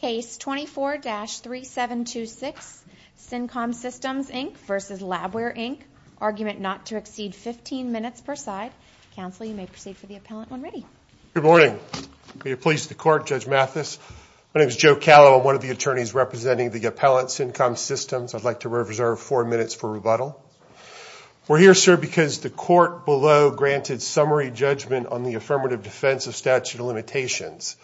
Case 24-3726, CINCOM Systems Inc v. LabWare Inc. Argument not to exceed 15 minutes per side. Counsel, you may proceed for the appellant when ready. Good morning. May it please the court, Judge Mathis. My name is Joe Callow. I'm one of the attorneys representing the appellant, CINCOM Systems. I'd like to reserve four minutes for rebuttal. We're here, sir, because the court below granted summary judgment on the affirmative defense of statute of limitations.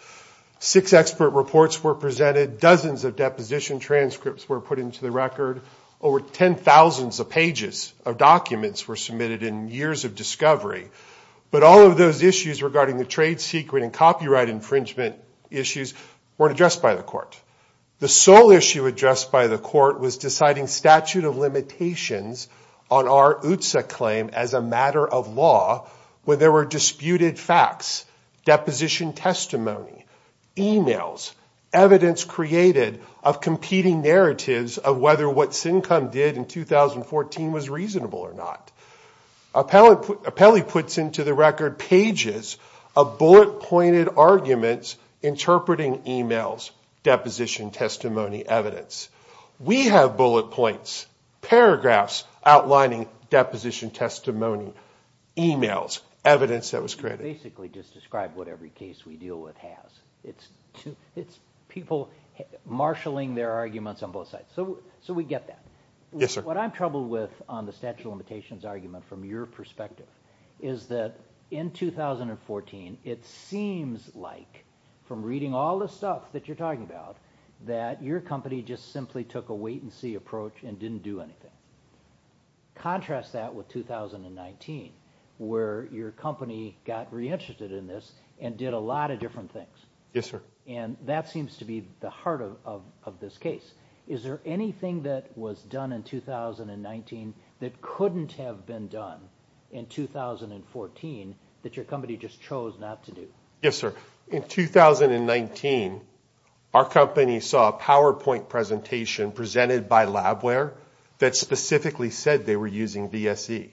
Six expert reports were presented. Dozens of deposition transcripts were put into the record. Over 10,000 pages of documents were submitted in years of discovery. But all of those issues regarding the trade secret and copyright infringement issues weren't addressed by the court. The sole issue addressed by the court was deciding statute of limitations on our UTSA claim as a matter of law where there were disputed facts, deposition testimony, e-mails, evidence created of competing narratives of whether what CINCOM did in 2014 was reasonable or not. Appellant puts into the record pages of bullet-pointed arguments interpreting e-mails, deposition testimony evidence. We have bullet points, paragraphs outlining deposition testimony, e-mails, evidence that was created. Basically just describe what every case we deal with has. It's people marshaling their arguments on both sides. So we get that. Yes, sir. What I'm troubled with on the statute of limitations argument from your perspective is that in 2014, it seems like from reading all the stuff that you're talking about, that your company just simply took a wait-and-see approach and didn't do anything. Contrast that with 2019 where your company got reinterested in this and did a lot of different things. Yes, sir. And that seems to be the heart of this case. Is there anything that was done in 2019 that couldn't have been done in 2014 that your company just chose not to do? Yes, sir. In 2019, our company saw a PowerPoint presentation presented by Labware that specifically said they were using VSE.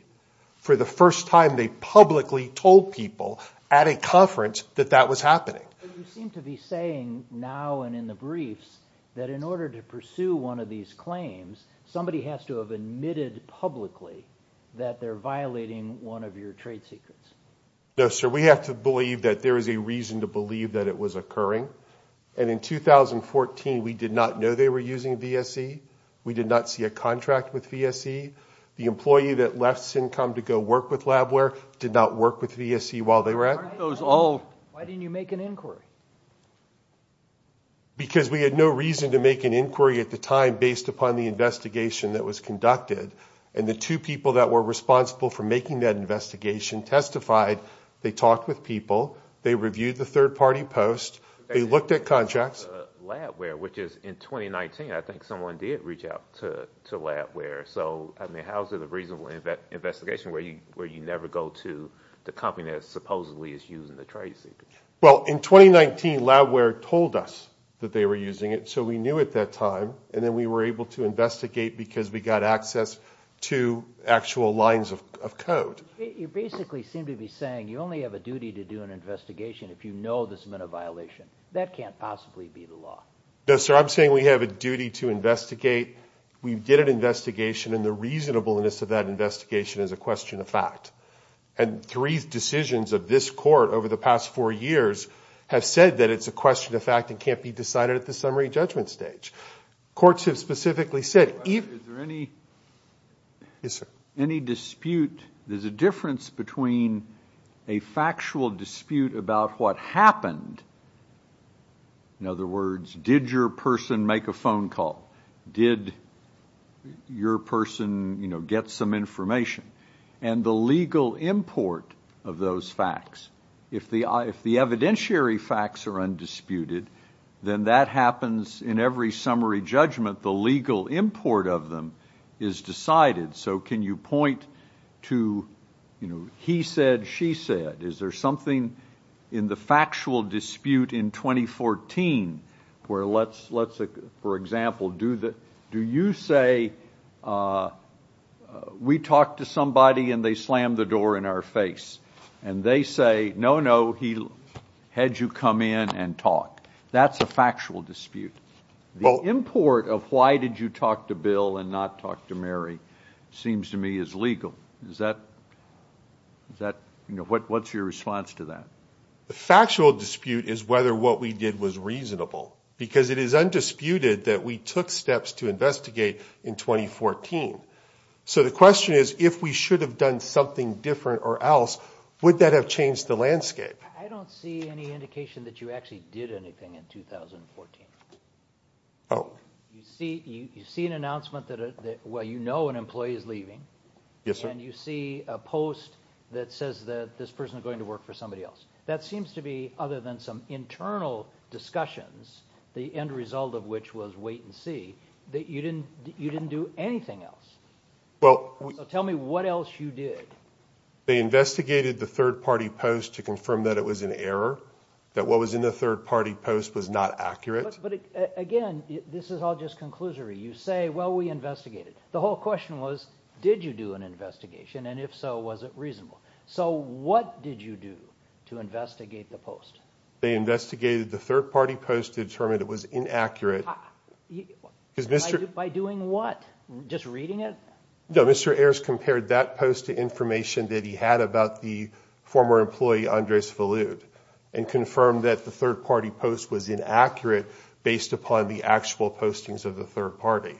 For the first time, they publicly told people at a conference that that was happening. You seem to be saying now and in the briefs that in order to pursue one of these claims, somebody has to have admitted publicly that they're violating one of your trade secrets. No, sir. We have to believe that there is a reason to believe that it was occurring. And in 2014, we did not know they were using VSE. We did not see a contract with VSE. The employee that left Syncom to go work with Labware did not work with VSE while they were at it. Why didn't you make an inquiry? Because we had no reason to make an inquiry at the time based upon the investigation that was conducted. And the two people that were responsible for making that investigation testified. They talked with people. They reviewed the third-party post. They looked at contracts. Labware, which is in 2019, I think someone did reach out to Labware. So, I mean, how is it a reasonable investigation where you never go to the company that supposedly is using the trade secret? Well, in 2019, Labware told us that they were using it, so we knew at that time. And then we were able to investigate because we got access to actual lines of code. You basically seem to be saying you only have a duty to do an investigation if you know this meant a violation. That can't possibly be the law. No, sir. I'm saying we have a duty to investigate. We did an investigation, and the reasonableness of that investigation is a question of fact. And three decisions of this court over the past four years have said that it's a question of fact and can't be decided at the summary judgment stage. Courts have specifically said. Is there any dispute? There's a difference between a factual dispute about what happened. In other words, did your person make a phone call? Did your person, you know, get some information? And the legal import of those facts, if the evidentiary facts are undisputed, then that happens in every summary judgment. The legal import of them is decided. So can you point to, you know, he said, she said? Is there something in the factual dispute in 2014 where let's, for example, do you say we talked to somebody and they slammed the door in our face? And they say, no, no, he had you come in and talk. That's a factual dispute. The import of why did you talk to Bill and not talk to Mary seems to me is legal. Is that, you know, what's your response to that? The factual dispute is whether what we did was reasonable. Because it is undisputed that we took steps to investigate in 2014. So the question is, if we should have done something different or else, would that have changed the landscape? I don't see any indication that you actually did anything in 2014. Oh. You see an announcement that, well, you know an employee is leaving. Yes, sir. And you see a post that says that this person is going to work for somebody else. That seems to be, other than some internal discussions, the end result of which was wait and see, that you didn't do anything else. So tell me what else you did. They investigated the third-party post to confirm that it was an error, that what was in the third-party post was not accurate. But, again, this is all just conclusory. You say, well, we investigated. The whole question was, did you do an investigation? And if so, was it reasonable? So what did you do to investigate the post? They investigated the third-party post to determine it was inaccurate. By doing what? Just reading it? No, Mr. Ayers compared that post to information that he had about the former employee, Andres Falud, and confirmed that the third-party post was inaccurate based upon the actual postings of the third party.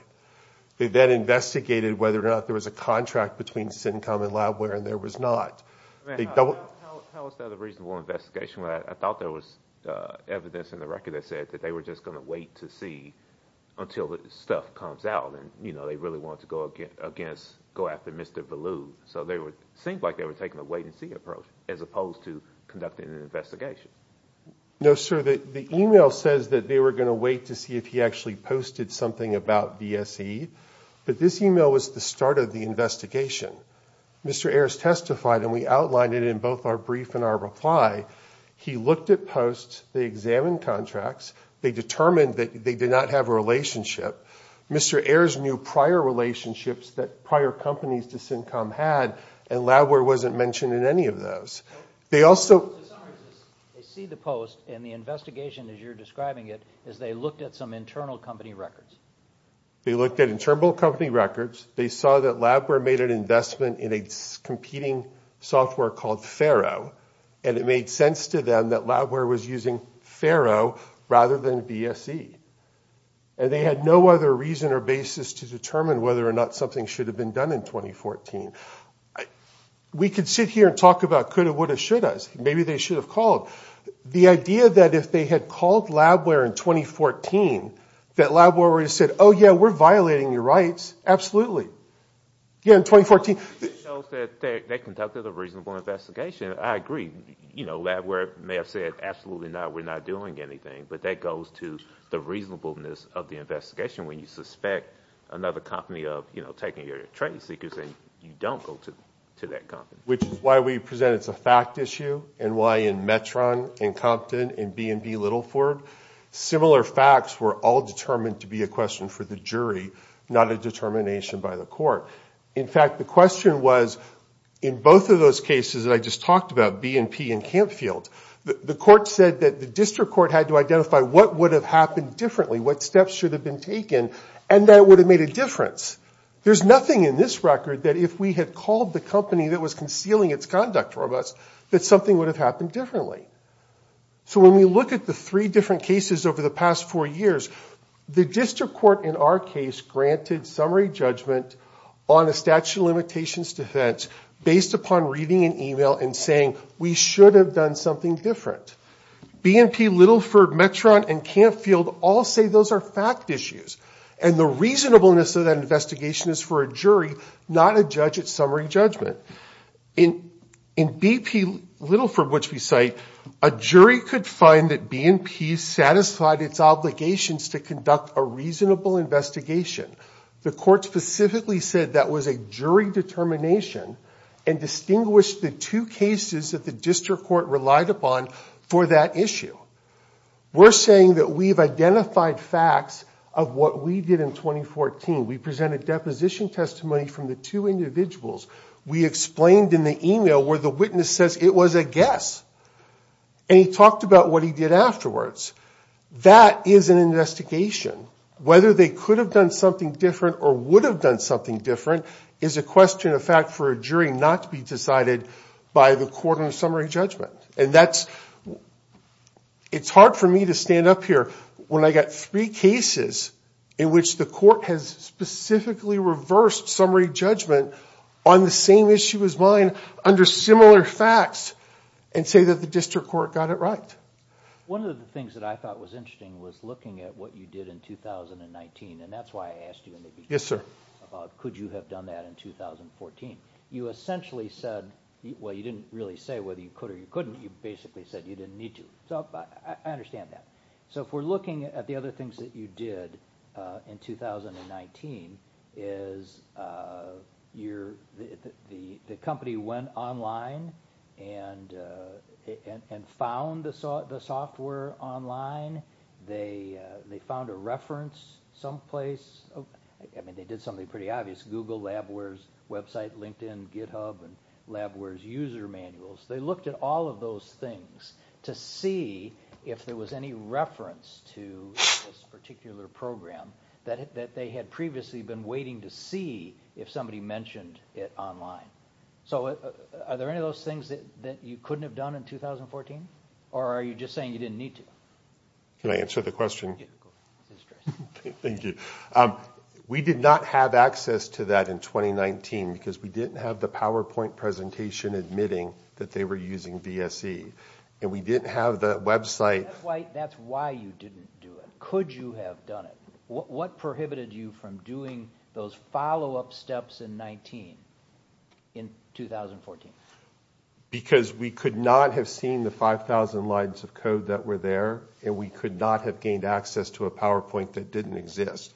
They then investigated whether or not there was a contract between CINCOM and Labware, and there was not. How was that a reasonable investigation? I thought there was evidence in the record that said that they were just going to wait to see until the stuff comes out. They really wanted to go after Mr. Falud, so it seemed like they were taking a wait-and-see approach as opposed to conducting an investigation. No, sir. The email says that they were going to wait to see if he actually posted something about BSE, but this email was the start of the investigation. Mr. Ayers testified, and we outlined it in both our brief and our reply. He looked at posts, they examined contracts, they determined that they did not have a relationship. Mr. Ayers knew prior relationships that prior companies to CINCOM had, and Labware wasn't mentioned in any of those. They also... They see the post, and the investigation, as you're describing it, is they looked at some internal company records. They looked at internal company records. They saw that Labware made an investment in a competing software called FARO, and it made sense to them that Labware was using FARO rather than BSE. And they had no other reason or basis to determine whether or not something should have been done in 2014. We could sit here and talk about coulda, woulda, shouldas. Maybe they should have called. The idea that if they had called Labware in 2014, that Labware would have said, oh, yeah, we're violating your rights, absolutely. Yeah, in 2014... They conducted a reasonable investigation. I agree. Labware may have said, absolutely not, we're not doing anything, but that goes to the reasonableness of the investigation when you suspect another company of taking your trade secrets, and you don't go to that company. Which is why we present it as a fact issue, and why in Metron and Compton and B&B Littleford, similar facts were all determined to be a question for the jury, not a determination by the court. In fact, the question was, in both of those cases that I just talked about, B&P and Campfield, the court said that the district court had to identify what would have happened differently, what steps should have been taken, and that would have made a difference. There's nothing in this record that if we had called the company that was concealing its conduct from us, that something would have happened differently. So when we look at the three different cases over the past four years, the district court in our case granted summary judgment on a statute of limitations defense based upon reading an email and saying, we should have done something different. B&P, Littleford, Metron and Campfield all say those are fact issues, and the reasonableness of that investigation is for a jury, not a judge at summary judgment. In B&P Littleford, which we cite, a jury could find that B&P satisfied its obligations to conduct a reasonable investigation. The court specifically said that was a jury determination and distinguished the two cases that the district court relied upon for that issue. We're saying that we've identified facts of what we did in 2014. We presented deposition testimony from the two individuals. We explained in the email where the witness says it was a guess, and he talked about what he did afterwards. That is an investigation. Whether they could have done something different or would have done something different is a question of fact for a jury not to be decided by the court on summary judgment, and it's hard for me to stand up here when I've got three cases in which the court has specifically reversed summary judgment on the same issue as mine under similar facts and say that the district court got it right. One of the things that I thought was interesting was looking at what you did in 2019, and that's why I asked you in the beginning about could you have done that in 2014. You essentially said... Well, you didn't really say whether you could or you couldn't. You basically said you didn't need to, so I understand that. So if we're looking at the other things that you did in 2019, is the company went online and found the software online. They found a reference someplace. I mean, they did something pretty obvious. Google, Labware's website, LinkedIn, GitHub, and Labware's user manuals. They looked at all of those things to see if there was any reference to this particular program that they had previously been waiting to see if somebody mentioned it online. So are there any of those things that you couldn't have done in 2014? Or are you just saying you didn't need to? Can I answer the question? Go ahead. Thank you. We did not have access to that in 2019 because we didn't have the PowerPoint presentation admitting that they were using VSE. And we didn't have that website. That's why you didn't do it. Could you have done it? What prohibited you from doing those follow-up steps in 2019, in 2014? Because we could not have seen the 5,000 lines of code that were there, and we could not have gained access to a PowerPoint that didn't exist.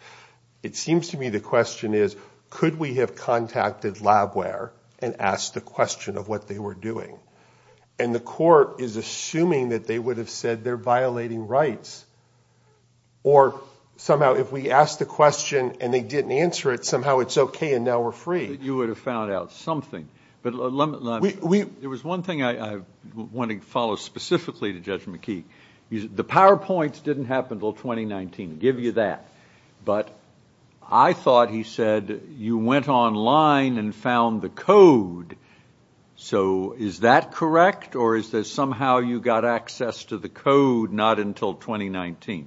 It seems to me the question is, could we have contacted Labware and asked the question of what they were doing? And the court is assuming that they would have said they're violating rights. Or somehow if we asked the question and they didn't answer it, somehow it's okay and now we're free. You would have found out something. There was one thing I want to follow specifically to Judge McKee. The PowerPoints didn't happen until 2019, give you that. But I thought he said you went online and found the code. So is that correct? Or is this somehow you got access to the code not until 2019?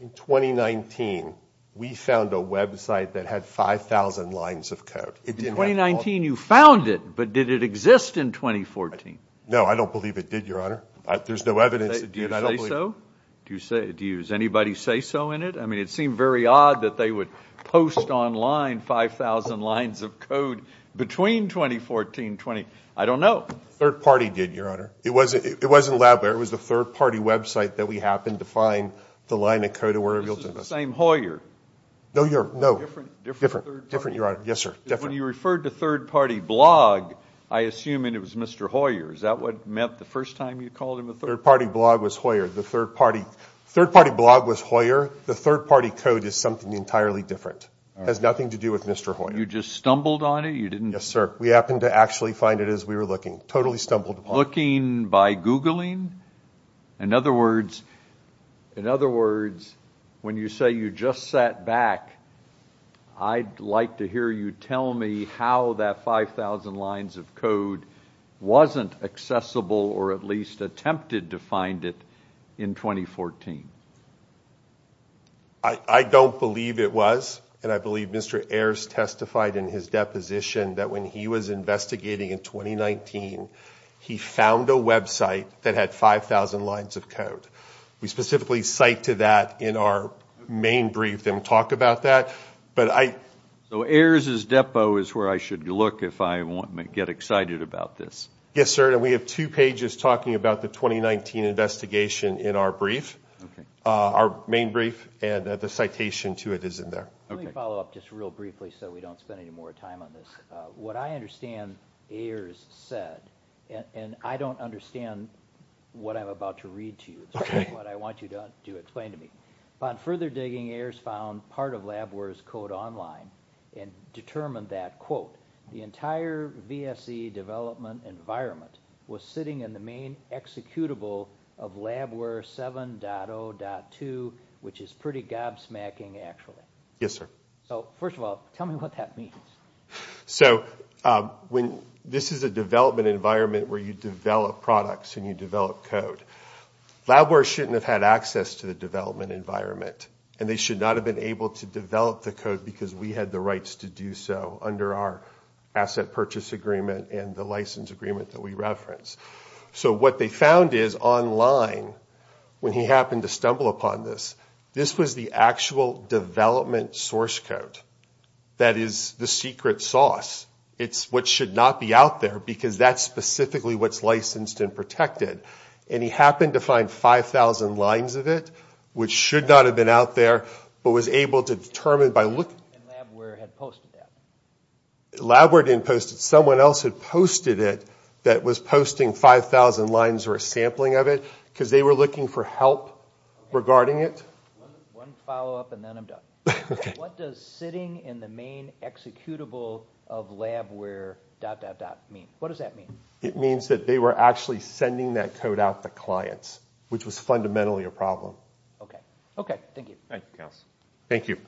In 2019 we found a website that had 5,000 lines of code. In 2019 you found it, but did it exist in 2014? No, I don't believe it did, Your Honor. There's no evidence that did. Do you say so? Does anybody say so in it? I mean, it seemed very odd that they would post online 5,000 lines of code between 2014 and 20. I don't know. Third-party did, Your Honor. It wasn't Labware. It was the third-party website that we happened to find the line of code. This is the same Hoyer. No, Your Honor, no. Different. Different, Your Honor. Yes, sir. When you referred to third-party blog, I assume it was Mr. Hoyer. Is that what meant the first time you called him a third party? Third-party blog was Hoyer. The third-party blog was Hoyer. The third-party code is something entirely different. It has nothing to do with Mr. Hoyer. You just stumbled on it? Yes, sir. We happened to actually find it as we were looking. Totally stumbled upon it. Looking by Googling? In other words, when you say you just sat back, I'd like to hear you tell me how that 5,000 lines of code wasn't accessible or at least attempted to find it in 2014. I don't believe it was. And I believe Mr. Ayers testified in his deposition that when he was investigating in 2019, he found a website that had 5,000 lines of code. We specifically cite to that in our main brief and talk about that. So Ayers' depot is where I should look if I want to get excited about this. Yes, sir. And we have two pages talking about the 2019 investigation in our brief, our main brief, and the citation to it is in there. Let me follow up just real briefly so we don't spend any more time on this. What I understand Ayers said, and I don't understand what I'm about to read to you, but I want you to explain to me. Upon further digging, Ayers found part of Labware's code online and determined that, quote, the entire VSE development environment was sitting in the main executable of Labware 7.0.2, which is pretty gobsmacking actually. Yes, sir. So first of all, tell me what that means. So this is a development environment where you develop products and you develop code. Labware shouldn't have had access to the development environment, and they should not have been able to develop the code because we had the rights to do so under our asset purchase agreement and the license agreement that we referenced. So what they found is online, when he happened to stumble upon this, this was the actual development source code that is the secret sauce. It's what should not be out there because that's specifically what's licensed and protected, and he happened to find 5,000 lines of it, which should not have been out there, but was able to determine by looking. And Labware had posted that. Labware didn't post it. Someone else had posted it that was posting 5,000 lines or a sampling of it because they were looking for help regarding it. One follow-up and then I'm done. Okay. What does sitting in the main executable of Labware dot, dot, dot mean? What does that mean? It means that they were actually sending that code out to clients, which was fundamentally a problem. Okay, thank you. Thank you, Counsel.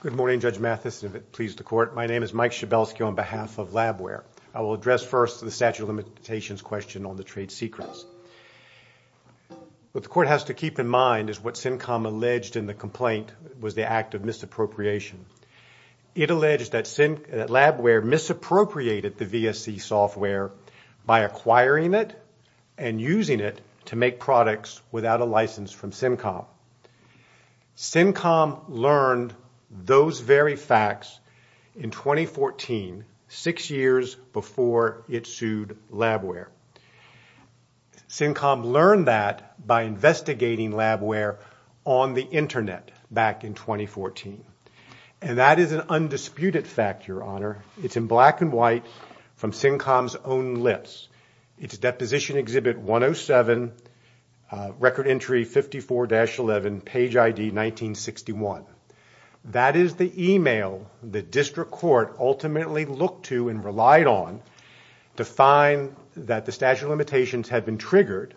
Good morning, Judge Mathis, and if it pleases the Court, my name is Mike Schabelsky on behalf of Labware. I will address first the statute of limitations question on the trade secrets. What the Court has to keep in mind is what SimCom alleged in the complaint was the act of misappropriation. It alleged that Labware misappropriated the VSC software by acquiring it and using it to make products without a license from SimCom. SimCom learned those very facts in 2014, six years before it sued Labware. SimCom learned that by investigating Labware on the Internet back in 2014, and that is an undisputed fact, Your Honor. It's in black and white from SimCom's own list. It's Deposition Exhibit 107, Record Entry 54-11, Page ID 1961. That is the email the District Court ultimately looked to and relied on to find that the statute of limitations had been triggered,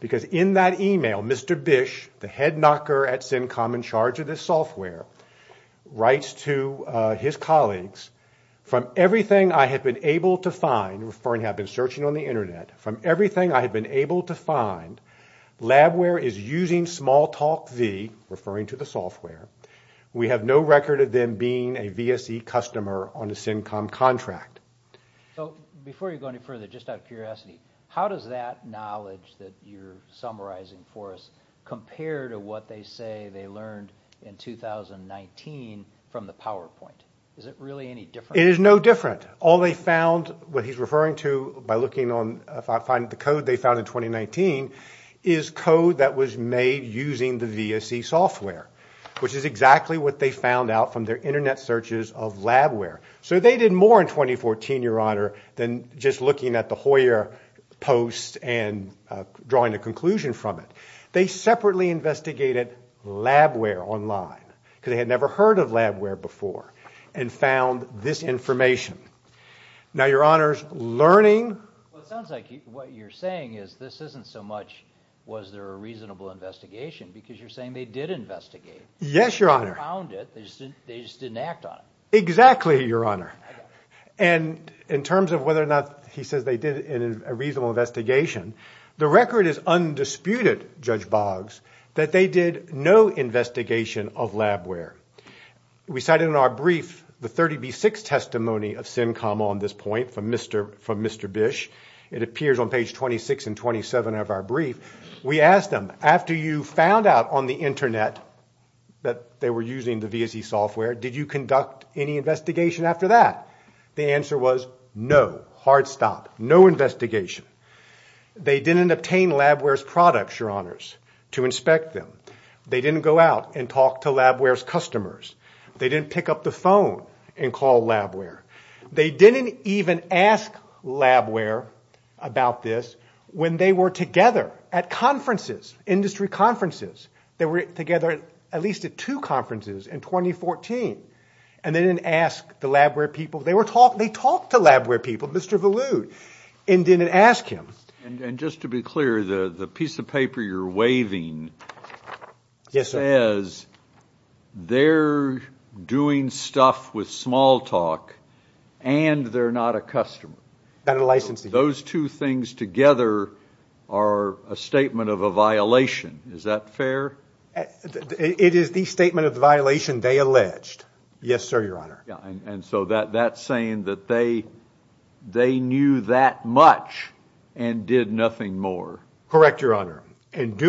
because in that email, Mr. Bish, the head knocker at SimCom in charge of this software, writes to his colleagues, from everything I have been able to find, referring to I have been searching on the Internet, from everything I have been able to find, Labware is using Smalltalk V, referring to the software. We have no record of them being a VSC customer on a SimCom contract. So, before you go any further, just out of curiosity, how does that knowledge that you're summarizing for us compare to what they say they learned in 2019 from the PowerPoint? Is it really any different? It is no different. All they found, what he's referring to by looking on the code they found in 2019, is code that was made using the VSC software, which is exactly what they found out from their Internet searches of Labware. So they did more in 2014, Your Honor, than just looking at the Hoyer post and drawing a conclusion from it. They separately investigated Labware online, because they had never heard of Labware before. And found this information. Now, Your Honor, learning... Well, it sounds like what you're saying is this isn't so much, was there a reasonable investigation, because you're saying they did investigate. Yes, Your Honor. They found it, they just didn't act on it. Exactly, Your Honor. And in terms of whether or not he says they did a reasonable investigation, the record is undisputed, Judge Boggs, that they did no investigation of Labware. We cited in our brief the 30B6 testimony of Simcom on this point, from Mr. Bish. It appears on page 26 and 27 of our brief. We asked them, after you found out on the Internet that they were using the VSC software, did you conduct any investigation after that? The answer was no. Hard stop. No investigation. They didn't obtain Labware's products, Your Honors, to inspect them. They didn't go out and talk to Labware's customers. They didn't pick up the phone and call Labware. They didn't even ask Labware about this when they were together at conferences, industry conferences. They were together at least at two conferences in 2014, and they didn't ask the Labware people. They talked to Labware people, Mr. Valude, and didn't ask him. And just to be clear, the piece of paper you're waving says they're doing stuff with Smalltalk and they're not a customer. Those two things together are a statement of a violation. Is that fair? It is the statement of the violation they alleged. Yes, sir, Your Honor. And so that's saying that they knew that much and did nothing more. Correct, Your Honor. And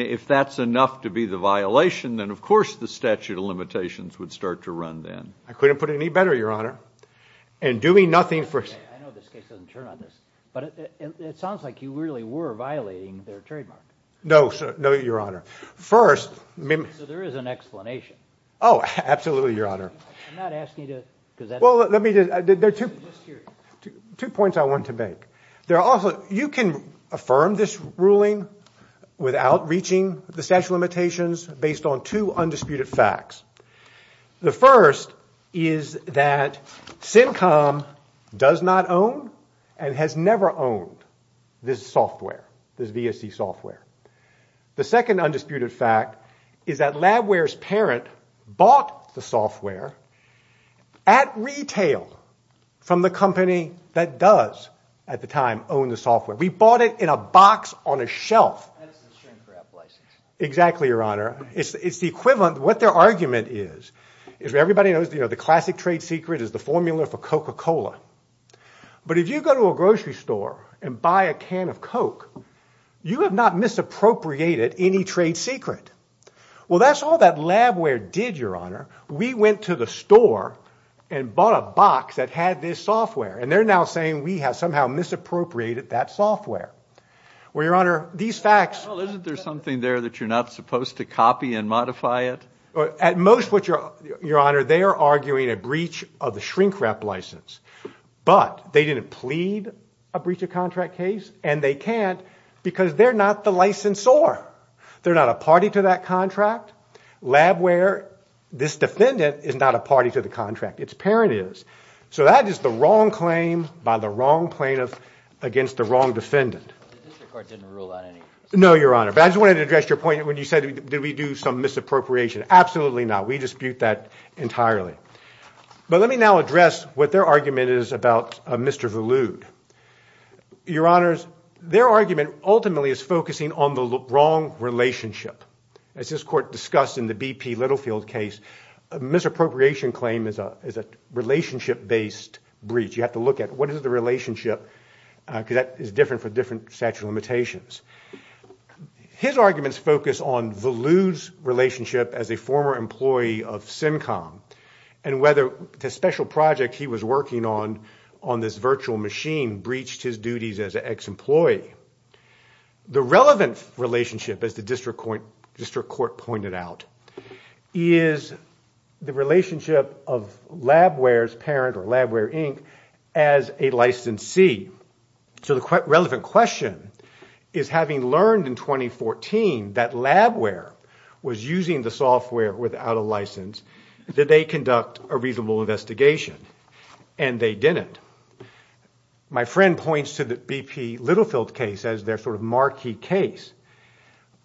if that's enough to be the violation, then of course the statute of limitations would start to run then. I couldn't put it any better, Your Honor. And doing nothing for... I know this case doesn't turn on this, but it sounds like you really were violating their trademark. No, Your Honor. First... So there is an explanation. Oh, absolutely, Your Honor. I'm not asking you to... Well, let me just... Two points I want to make. You can affirm this ruling without reaching the statute of limitations based on two undisputed facts. The first is that SimCom does not own and has never owned this software, this VSC software. The second undisputed fact is that Labware's parent bought the software at retail from the company that does at the time own the software. We bought it in a box on a shelf. That is a shrink-wrapped license. Exactly, Your Honor. It's the equivalent... What their argument is, everybody knows the classic trade secret is the formula for Coca-Cola. But if you go to a grocery store and buy a can of Coke, you have not misappropriated any trade secret. Well, that's all that Labware did, Your Honor. We went to the store and bought a box that had this software. And they're now saying we have somehow misappropriated that software. Well, Your Honor, these facts... Well, isn't there something there that you're not supposed to copy and modify it? At most, Your Honor, they are arguing a breach of the shrink-wrapped license. But they didn't plead a breach of contract case, and they can't because they're not the licensor. They're not a party to that contract. Labware, this defendant, is not a party to the contract. Its parent is. This is a misappropriation claim by the wrong plaintiff against the wrong defendant. The district court didn't rule out any... No, Your Honor. But I just wanted to address your point when you said did we do some misappropriation. Absolutely not. We dispute that entirely. But let me now address what their argument is about Mr. Volude. Your Honors, their argument ultimately is focusing on the wrong relationship. As this court discussed in the B.P. Littlefield case, misappropriation claim is a relationship-based breach. You have to look at what is the relationship because that is different for different statute of limitations. His arguments focus on Volude's relationship as a former employee of SimCom and whether the special project he was working on on this virtual machine breached his duties as an ex-employee. The relevant relationship, as the district court pointed out, is the relationship of Labware's parent, or Labware Inc., as a licensee. So the relevant question is having learned in 2014 that Labware was using the software without a license, did they conduct a reasonable investigation? And they didn't. My friend points to the B.P. Littlefield case as their sort of marquee case.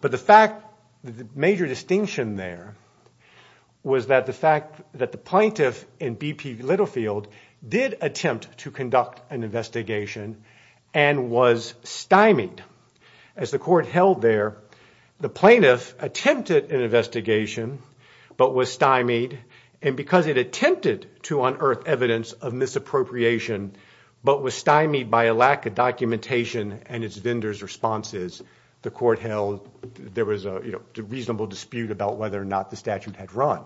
But the fact, the major distinction there was that the fact that the plaintiff in B.P. Littlefield did attempt to conduct an investigation and was stymied. As the court held there, the plaintiff attempted an investigation but was stymied and because it attempted to unearth evidence of misappropriation but was stymied by a lack of documentation and its vendor's responses, the court held there was a reasonable dispute as to whether or not the statute had run.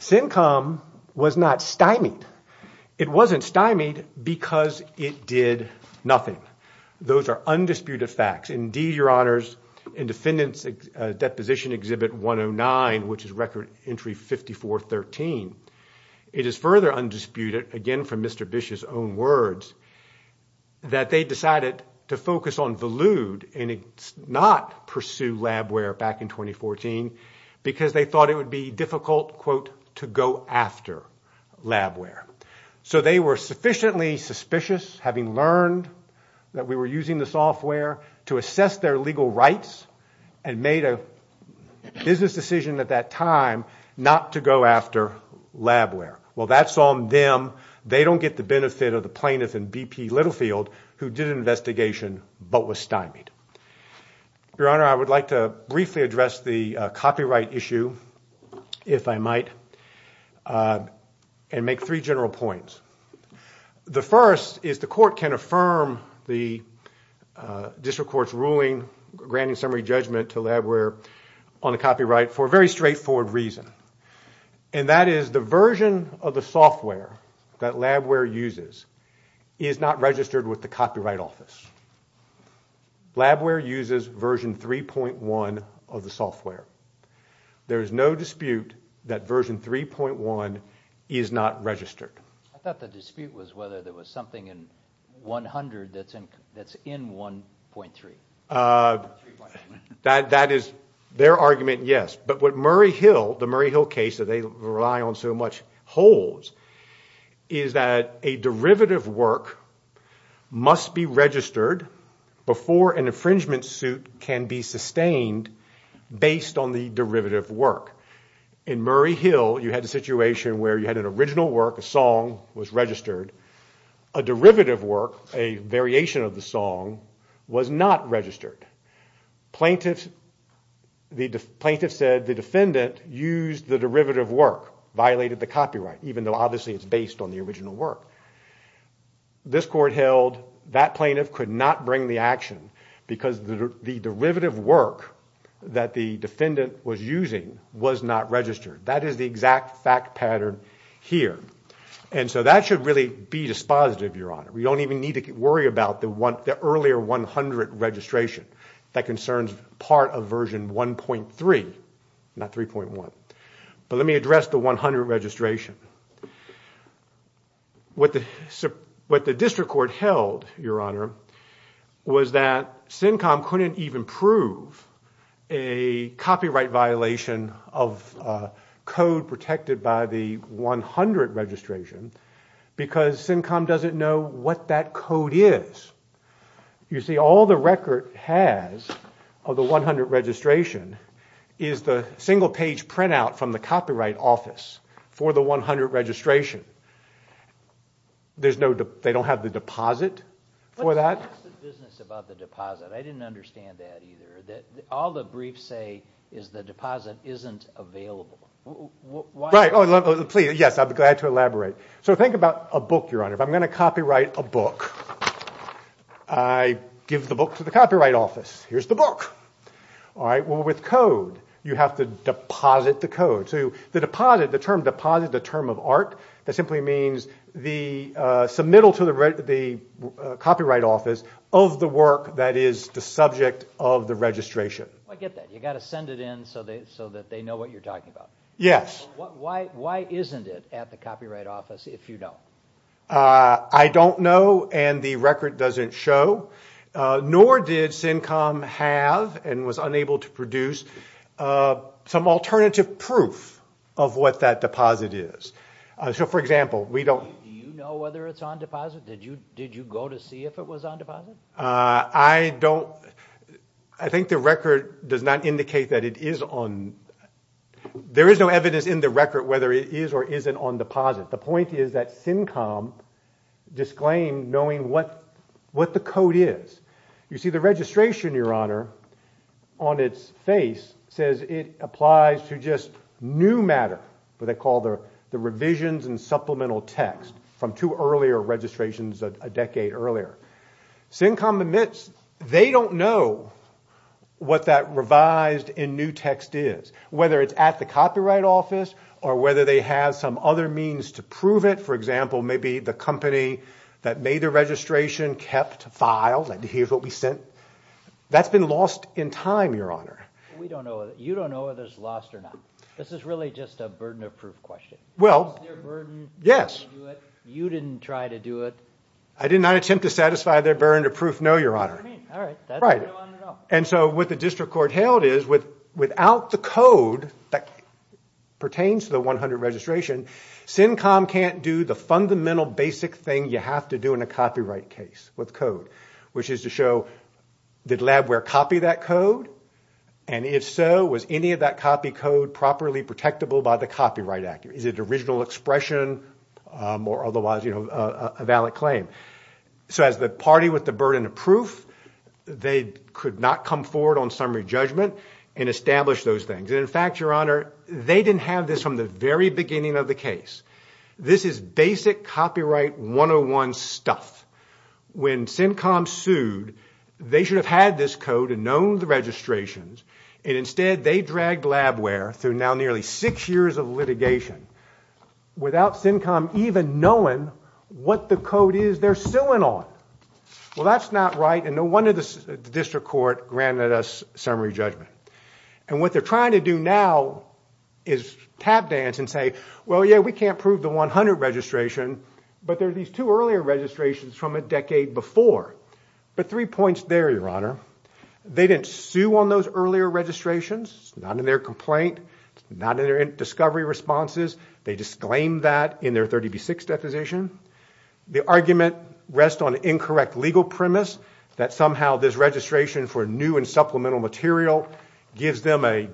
CINCOM was not stymied. It wasn't stymied because it did nothing. Those are undisputed facts. Indeed, Your Honors, in Defendant's Deposition Exhibit 109, which is Record Entry 5413, it is further undisputed, again from Mr. Bish's own words, that they decided to focus on Volude and not pursue Labware back in 2014 because they thought it would be difficult, to go after Labware. So they were sufficiently suspicious having learned that we were using the software to assess their legal rights and made a business decision at that time not to go after Labware. Well, that's on them. They don't get the benefit of the plaintiff and B.P. Littlefield who did an investigation but was stymied. Your Honor, I would like to briefly address the copyright issue if I might and make three general points. The first is the court can affirm the district court's ruling granting summary judgment to Labware on the copyright for a very straightforward reason and that is the version of the software that Labware uses is not registered with the Copyright Office. Labware uses version 3.1 of the software. There is no dispute that version 3.1 is not registered. I thought the dispute was whether there was something in 100 that's in 1.3. That is their argument, yes. But what Murray Hill, the Murray Hill case that they rely on so much holds is that a derivative work must be registered before an infringement suit can be sustained based on the derivative work. In Murray Hill you had a situation where you had an original work, was registered. A derivative work, a variation of the song was not registered. the plaintiffs said the defendant used the derivative work violated the copyright even though obviously it's based on the original work. This court held that plaintiff could not bring the action because the derivative work that the defendant was using was not registered. That is the exact fact pattern here. And so that should really be dispositive, We don't even need to worry about the earlier 100 registration that concerns part of version 1.3, not 3.1. But let me address the 100 registration. What the District Court held, Your Honor, was that CINCOM couldn't even prove a copyright violation of code protected by the 100 registration because CINCOM doesn't know what that code is. You see, all the record has of the 100 registration is the single page printout from the copyright office for the 100 registration. They don't have the deposit for that. What's the business about the deposit? I didn't understand that either. All the briefs say is the deposit isn't available. Right, yes, I'd be glad to elaborate. So think about a book, If I'm going to copyright a book, I give the book to the copyright office. Here's the book. All right, well with code you have to deposit the code. So the deposit, the term deposit, the term of art, that simply means the submittal to the copyright office of the work that is the subject of the registration. I get that. You got to send it in so that they know what you're talking about. Yes. Why isn't it at the copyright office if you don't? I don't know and the record doesn't show. Nor did CINCOM have and was unable to produce some alternative proof of what that deposit is. So for example, we don't do you know whether it's on deposit? Did you go to see if it was on deposit? I don't I think the record does not indicate that it is on there is no evidence in the record whether it is or isn't on deposit. The point is that CINCOM disclaimed knowing what what the code is. You see the registration your honor on its face says it applies to just new matter what they call the revisions and supplemental text. From two earlier registrations a decade earlier. CINCOM admits they don't know what that revised in new text is. Whether it's at the copyright office or whether they have some other means to prove it. For example, maybe the company that made the registration kept files and here's what we sent. That's been lost in time your honor. We don't know you don't know whether it's lost or not. This is really just a burden of proof question. Well solve their burden? Yes. You didn't try to do it. I did not attempt to satisfy their burden to prove no your honor. All right. Right. And so what the district court held is without the code that pertains to the 100 registration CINCOM can't do the fundamental basic thing you have to do in a copyright case with code. Which is to show did Labware copy that code and if so was any of that copy code properly protectable by the copyright act? Is it original expression or otherwise you know a valid claim? So as the party with the burden of proof they could not come forward on summary judgment and establish those things. And in fact your honor they didn't have this from the very beginning of the case. This is basic copyright 101 stuff. When CINCOM sued they should have had this code and known the registrations and instead they dragged Labware through now nearly 6 years of litigation without CINCOM even knowing what the code is they're suing on. Well that's not right and no wonder the district court granted us summary judgment. And what they're trying to do now is tap dance and say well yeah we can't prove the 100 registration but there are these two earlier registrations from a decade before. But three points there your honor. They didn't sue on those earlier registrations not in their complaint not in their discovery responses they disclaimed that in their 30B6 deposition. The argument rests on incorrect legal premise that somehow this registration for new and supplemental material gives them a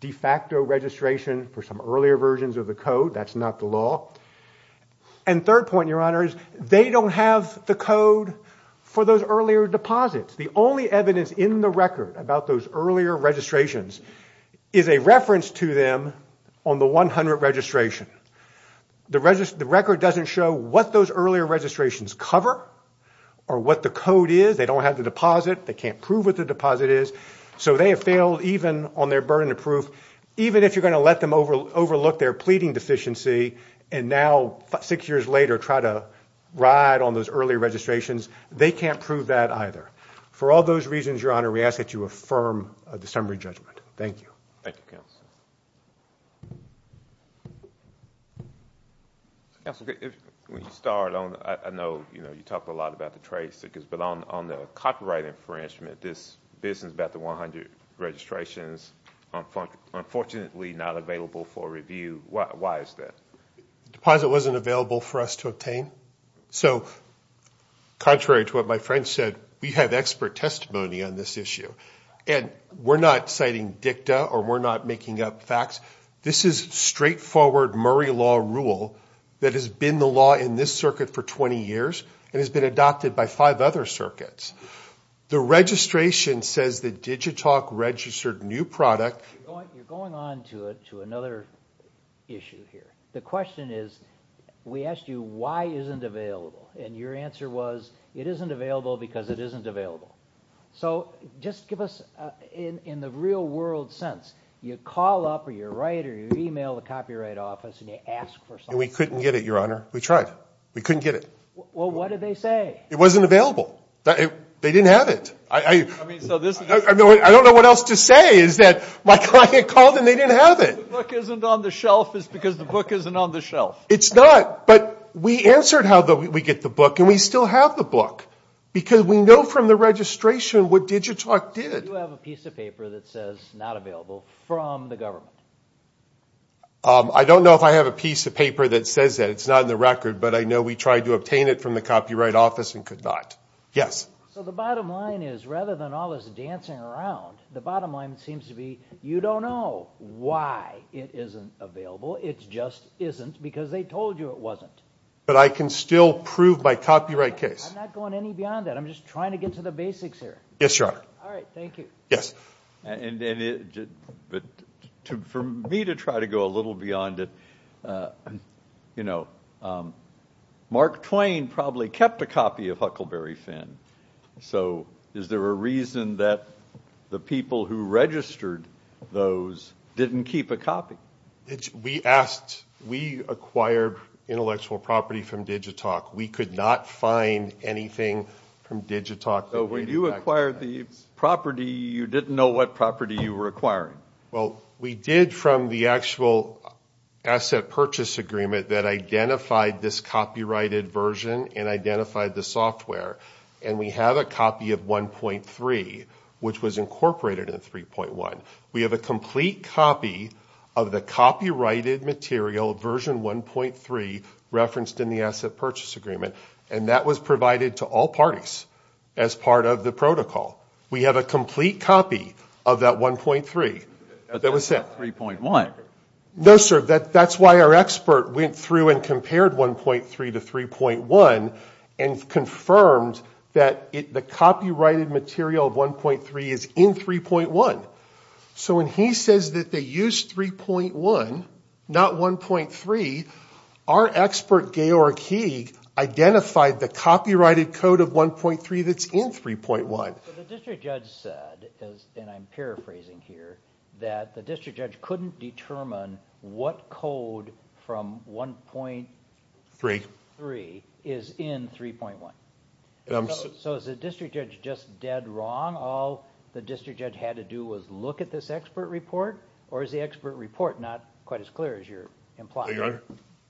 de facto registration for some earlier versions of the code that's not the law. And third point your honor is they don't have the code for those earlier deposits. The only evidence in the record about those earlier registrations is a reference to them on the 100 registration. The record doesn't show what those earlier registrations cover or what the code is. They don't have the deposit they can't prove what the deposit is. So they have failed even on their burden of proof even if you're going to let them overlook their pleading deficiency and now six years later try to ride on those early registrations they can't prove that either. For all those reasons your honor we ask that you affirm the summary judgment. Thank you. Thank you, Counsel, when you start I know you talk a lot about the trace but on the copyright infringement this business about the 100 registrations unfortunately not available for review. Why is that? The deposit wasn't available for us to So contrary to what my expert testimony on this issue and we're not citing dicta or we're not making up facts this is straightforward Murray law rule that has been the law in this circuit for 20 years and has been adopted by five other circuits. The registration says that Digitalk registered new product You're going on to another issue here. The question is we asked you why isn't available and your answer was it isn't available because it isn't available. So just give us in the real world sense you call up or you write or you email the copyright office and you ask for something. We couldn't get it your honor. We tried. We couldn't get it. Well what did they say? It wasn't available. They didn't have it. I don't know what else to say is that my client called and they said Because we know from the registration what Digitalk did. You have a piece of paper that says not available from the government. I don't know if I have a piece of paper that says that. It's not in the record but I know we tried to obtain it from the copyright office and could not. Yes. So the question is I'm trying to get to the basics here. Yes, your honor. Thank you. For me to try to go a little beyond it, you know, Mark Twain probably kept a copy of Huckleberry Finn. Is there a reason that the people who registered those didn't keep a copy? We acquired intellectual property from Digitalk. We could not find anything from Digitalk. So when you acquired the property, you didn't know what property you were acquiring? Well, we did from the actual asset purchase agreement that identified this copyrighted version and identified the software. And we have a copy of 1.3 which was incorporated in 3.1. We have a complete copy of the copyrighted material, version 1.3 referenced in the asset purchase agreement. And that was provided to all parties as part of the protocol. We have a complete copy of that 1.3 that was sent. 3.1? No, sir. That's why our expert went through and 1.3 to 3.1 and confirmed that the copyrighted material of 1.3 is in 3.1. So when he says that they used 3.1, not 1.3, our expert, Georg Heeg, identified the copyrighted code of 1.3 that's in 3.1. But the district judge said, and I'm paraphrasing here, that the district judge couldn't determine what code from 1.3 is in 3.1. So is the district judge just dead wrong? All the district judge had to do was look at this expert report or is the expert report not quite as clear as you're implying?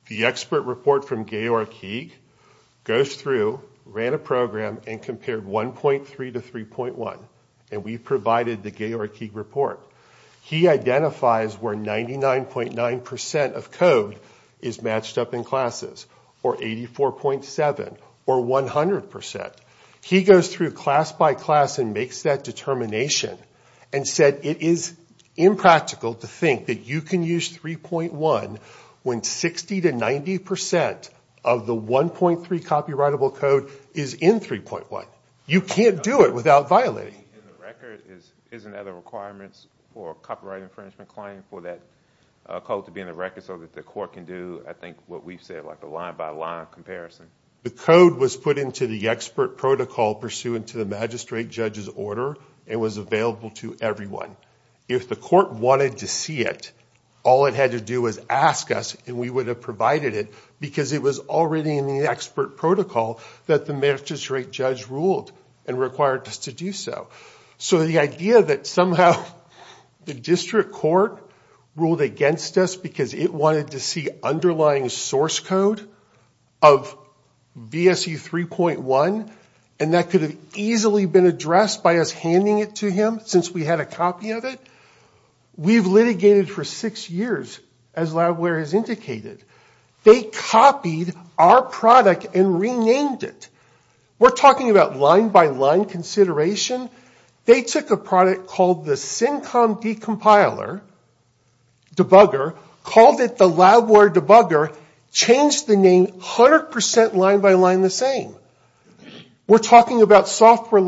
The expert report from Georg Heeg goes through, ran a program, and compared 1.3 to 3.1 and we provided the Georg Heeg report. He identifies where 99.9% of code is matched up in classes or 84.7 or 100%. He goes through class by class and makes that determination and said it is impractical to think that you can use 3.1 when 60 to 90% of the 1.3 copyrightable code is in 3.1. You can't do it without violating. Isn't that a requirement for a copyright infringement claim for that code to be in the record and court can do a line by line comparison? The code was put into the expert protocol pursuant to the magistrate judge's and was available to everyone. If the wanted to see it, all it had to do was provide it. It was already in the expert protocol that the magistrate judge required us to do so. The idea that somehow the district court ruled against us because it wanted to see underlying source code of VSE 3.1 and that could have been addressed by us handing it to him since we had a copy of it, we've litigated for six years as Labware has They copied our product and renamed it. We're talking about line by line consideration. They took a product called the Syncom Decompiler Debugger, called it the off for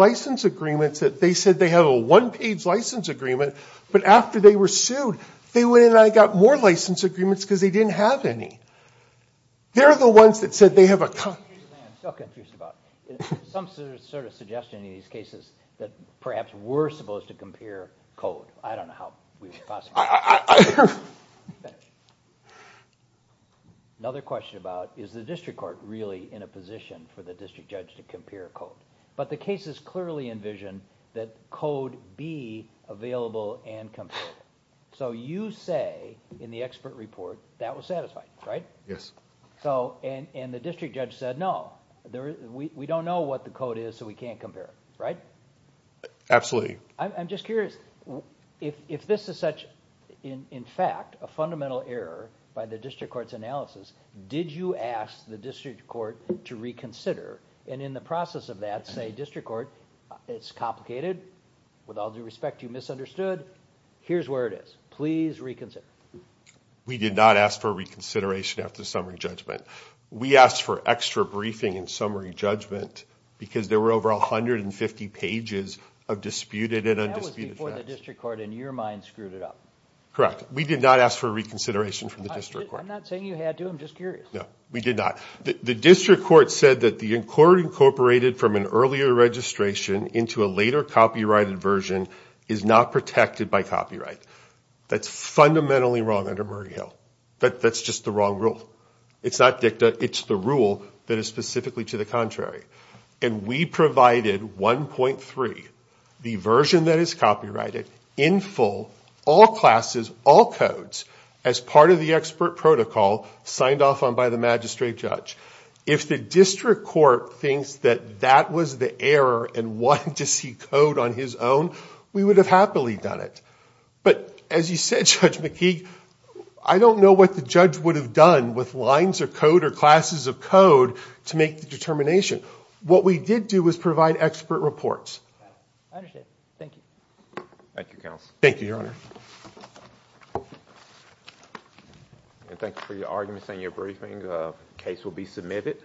agreements that they said they had a one page license agreement but after they were sued they went in and got more license agreements because they didn't have any. They're the ones that said they had a have a payment agreement didn't but they it's complicated with all due respect you misunderstood here's where it is please reconsider we did not ask for reconsideration after summary judgment we asked for extra briefing in summary judgment because there were over 150 pages of disputed and undisputed facts that was before the district court and your mind screwed it up correct we did not ask for reconsideration from the district court I'm not saying you had to I'm just curious no we did not the district court said that the court incorporated from an earlier registration into a later copyrighted version is not protected by copyright that's fundamentally wrong under Murray Hill but that's just the wrong rule it's not dicta it's the rule that is specifically to the contrary and we provided 1.3 the version that is copyrighted in full all classes all codes as part of the expert protocol signed off on by the magistrate judge if the district court thinks that that was the error and wanted to see code on his own we would have happily done it but as you said Judge McKee I don't know what the judge would have done with lines of code or classes of code to make the determination what we did do was provide expert reports I understand thank you thank you counsel thank you your honor and thank you for your arguments and your briefing the case will be submitted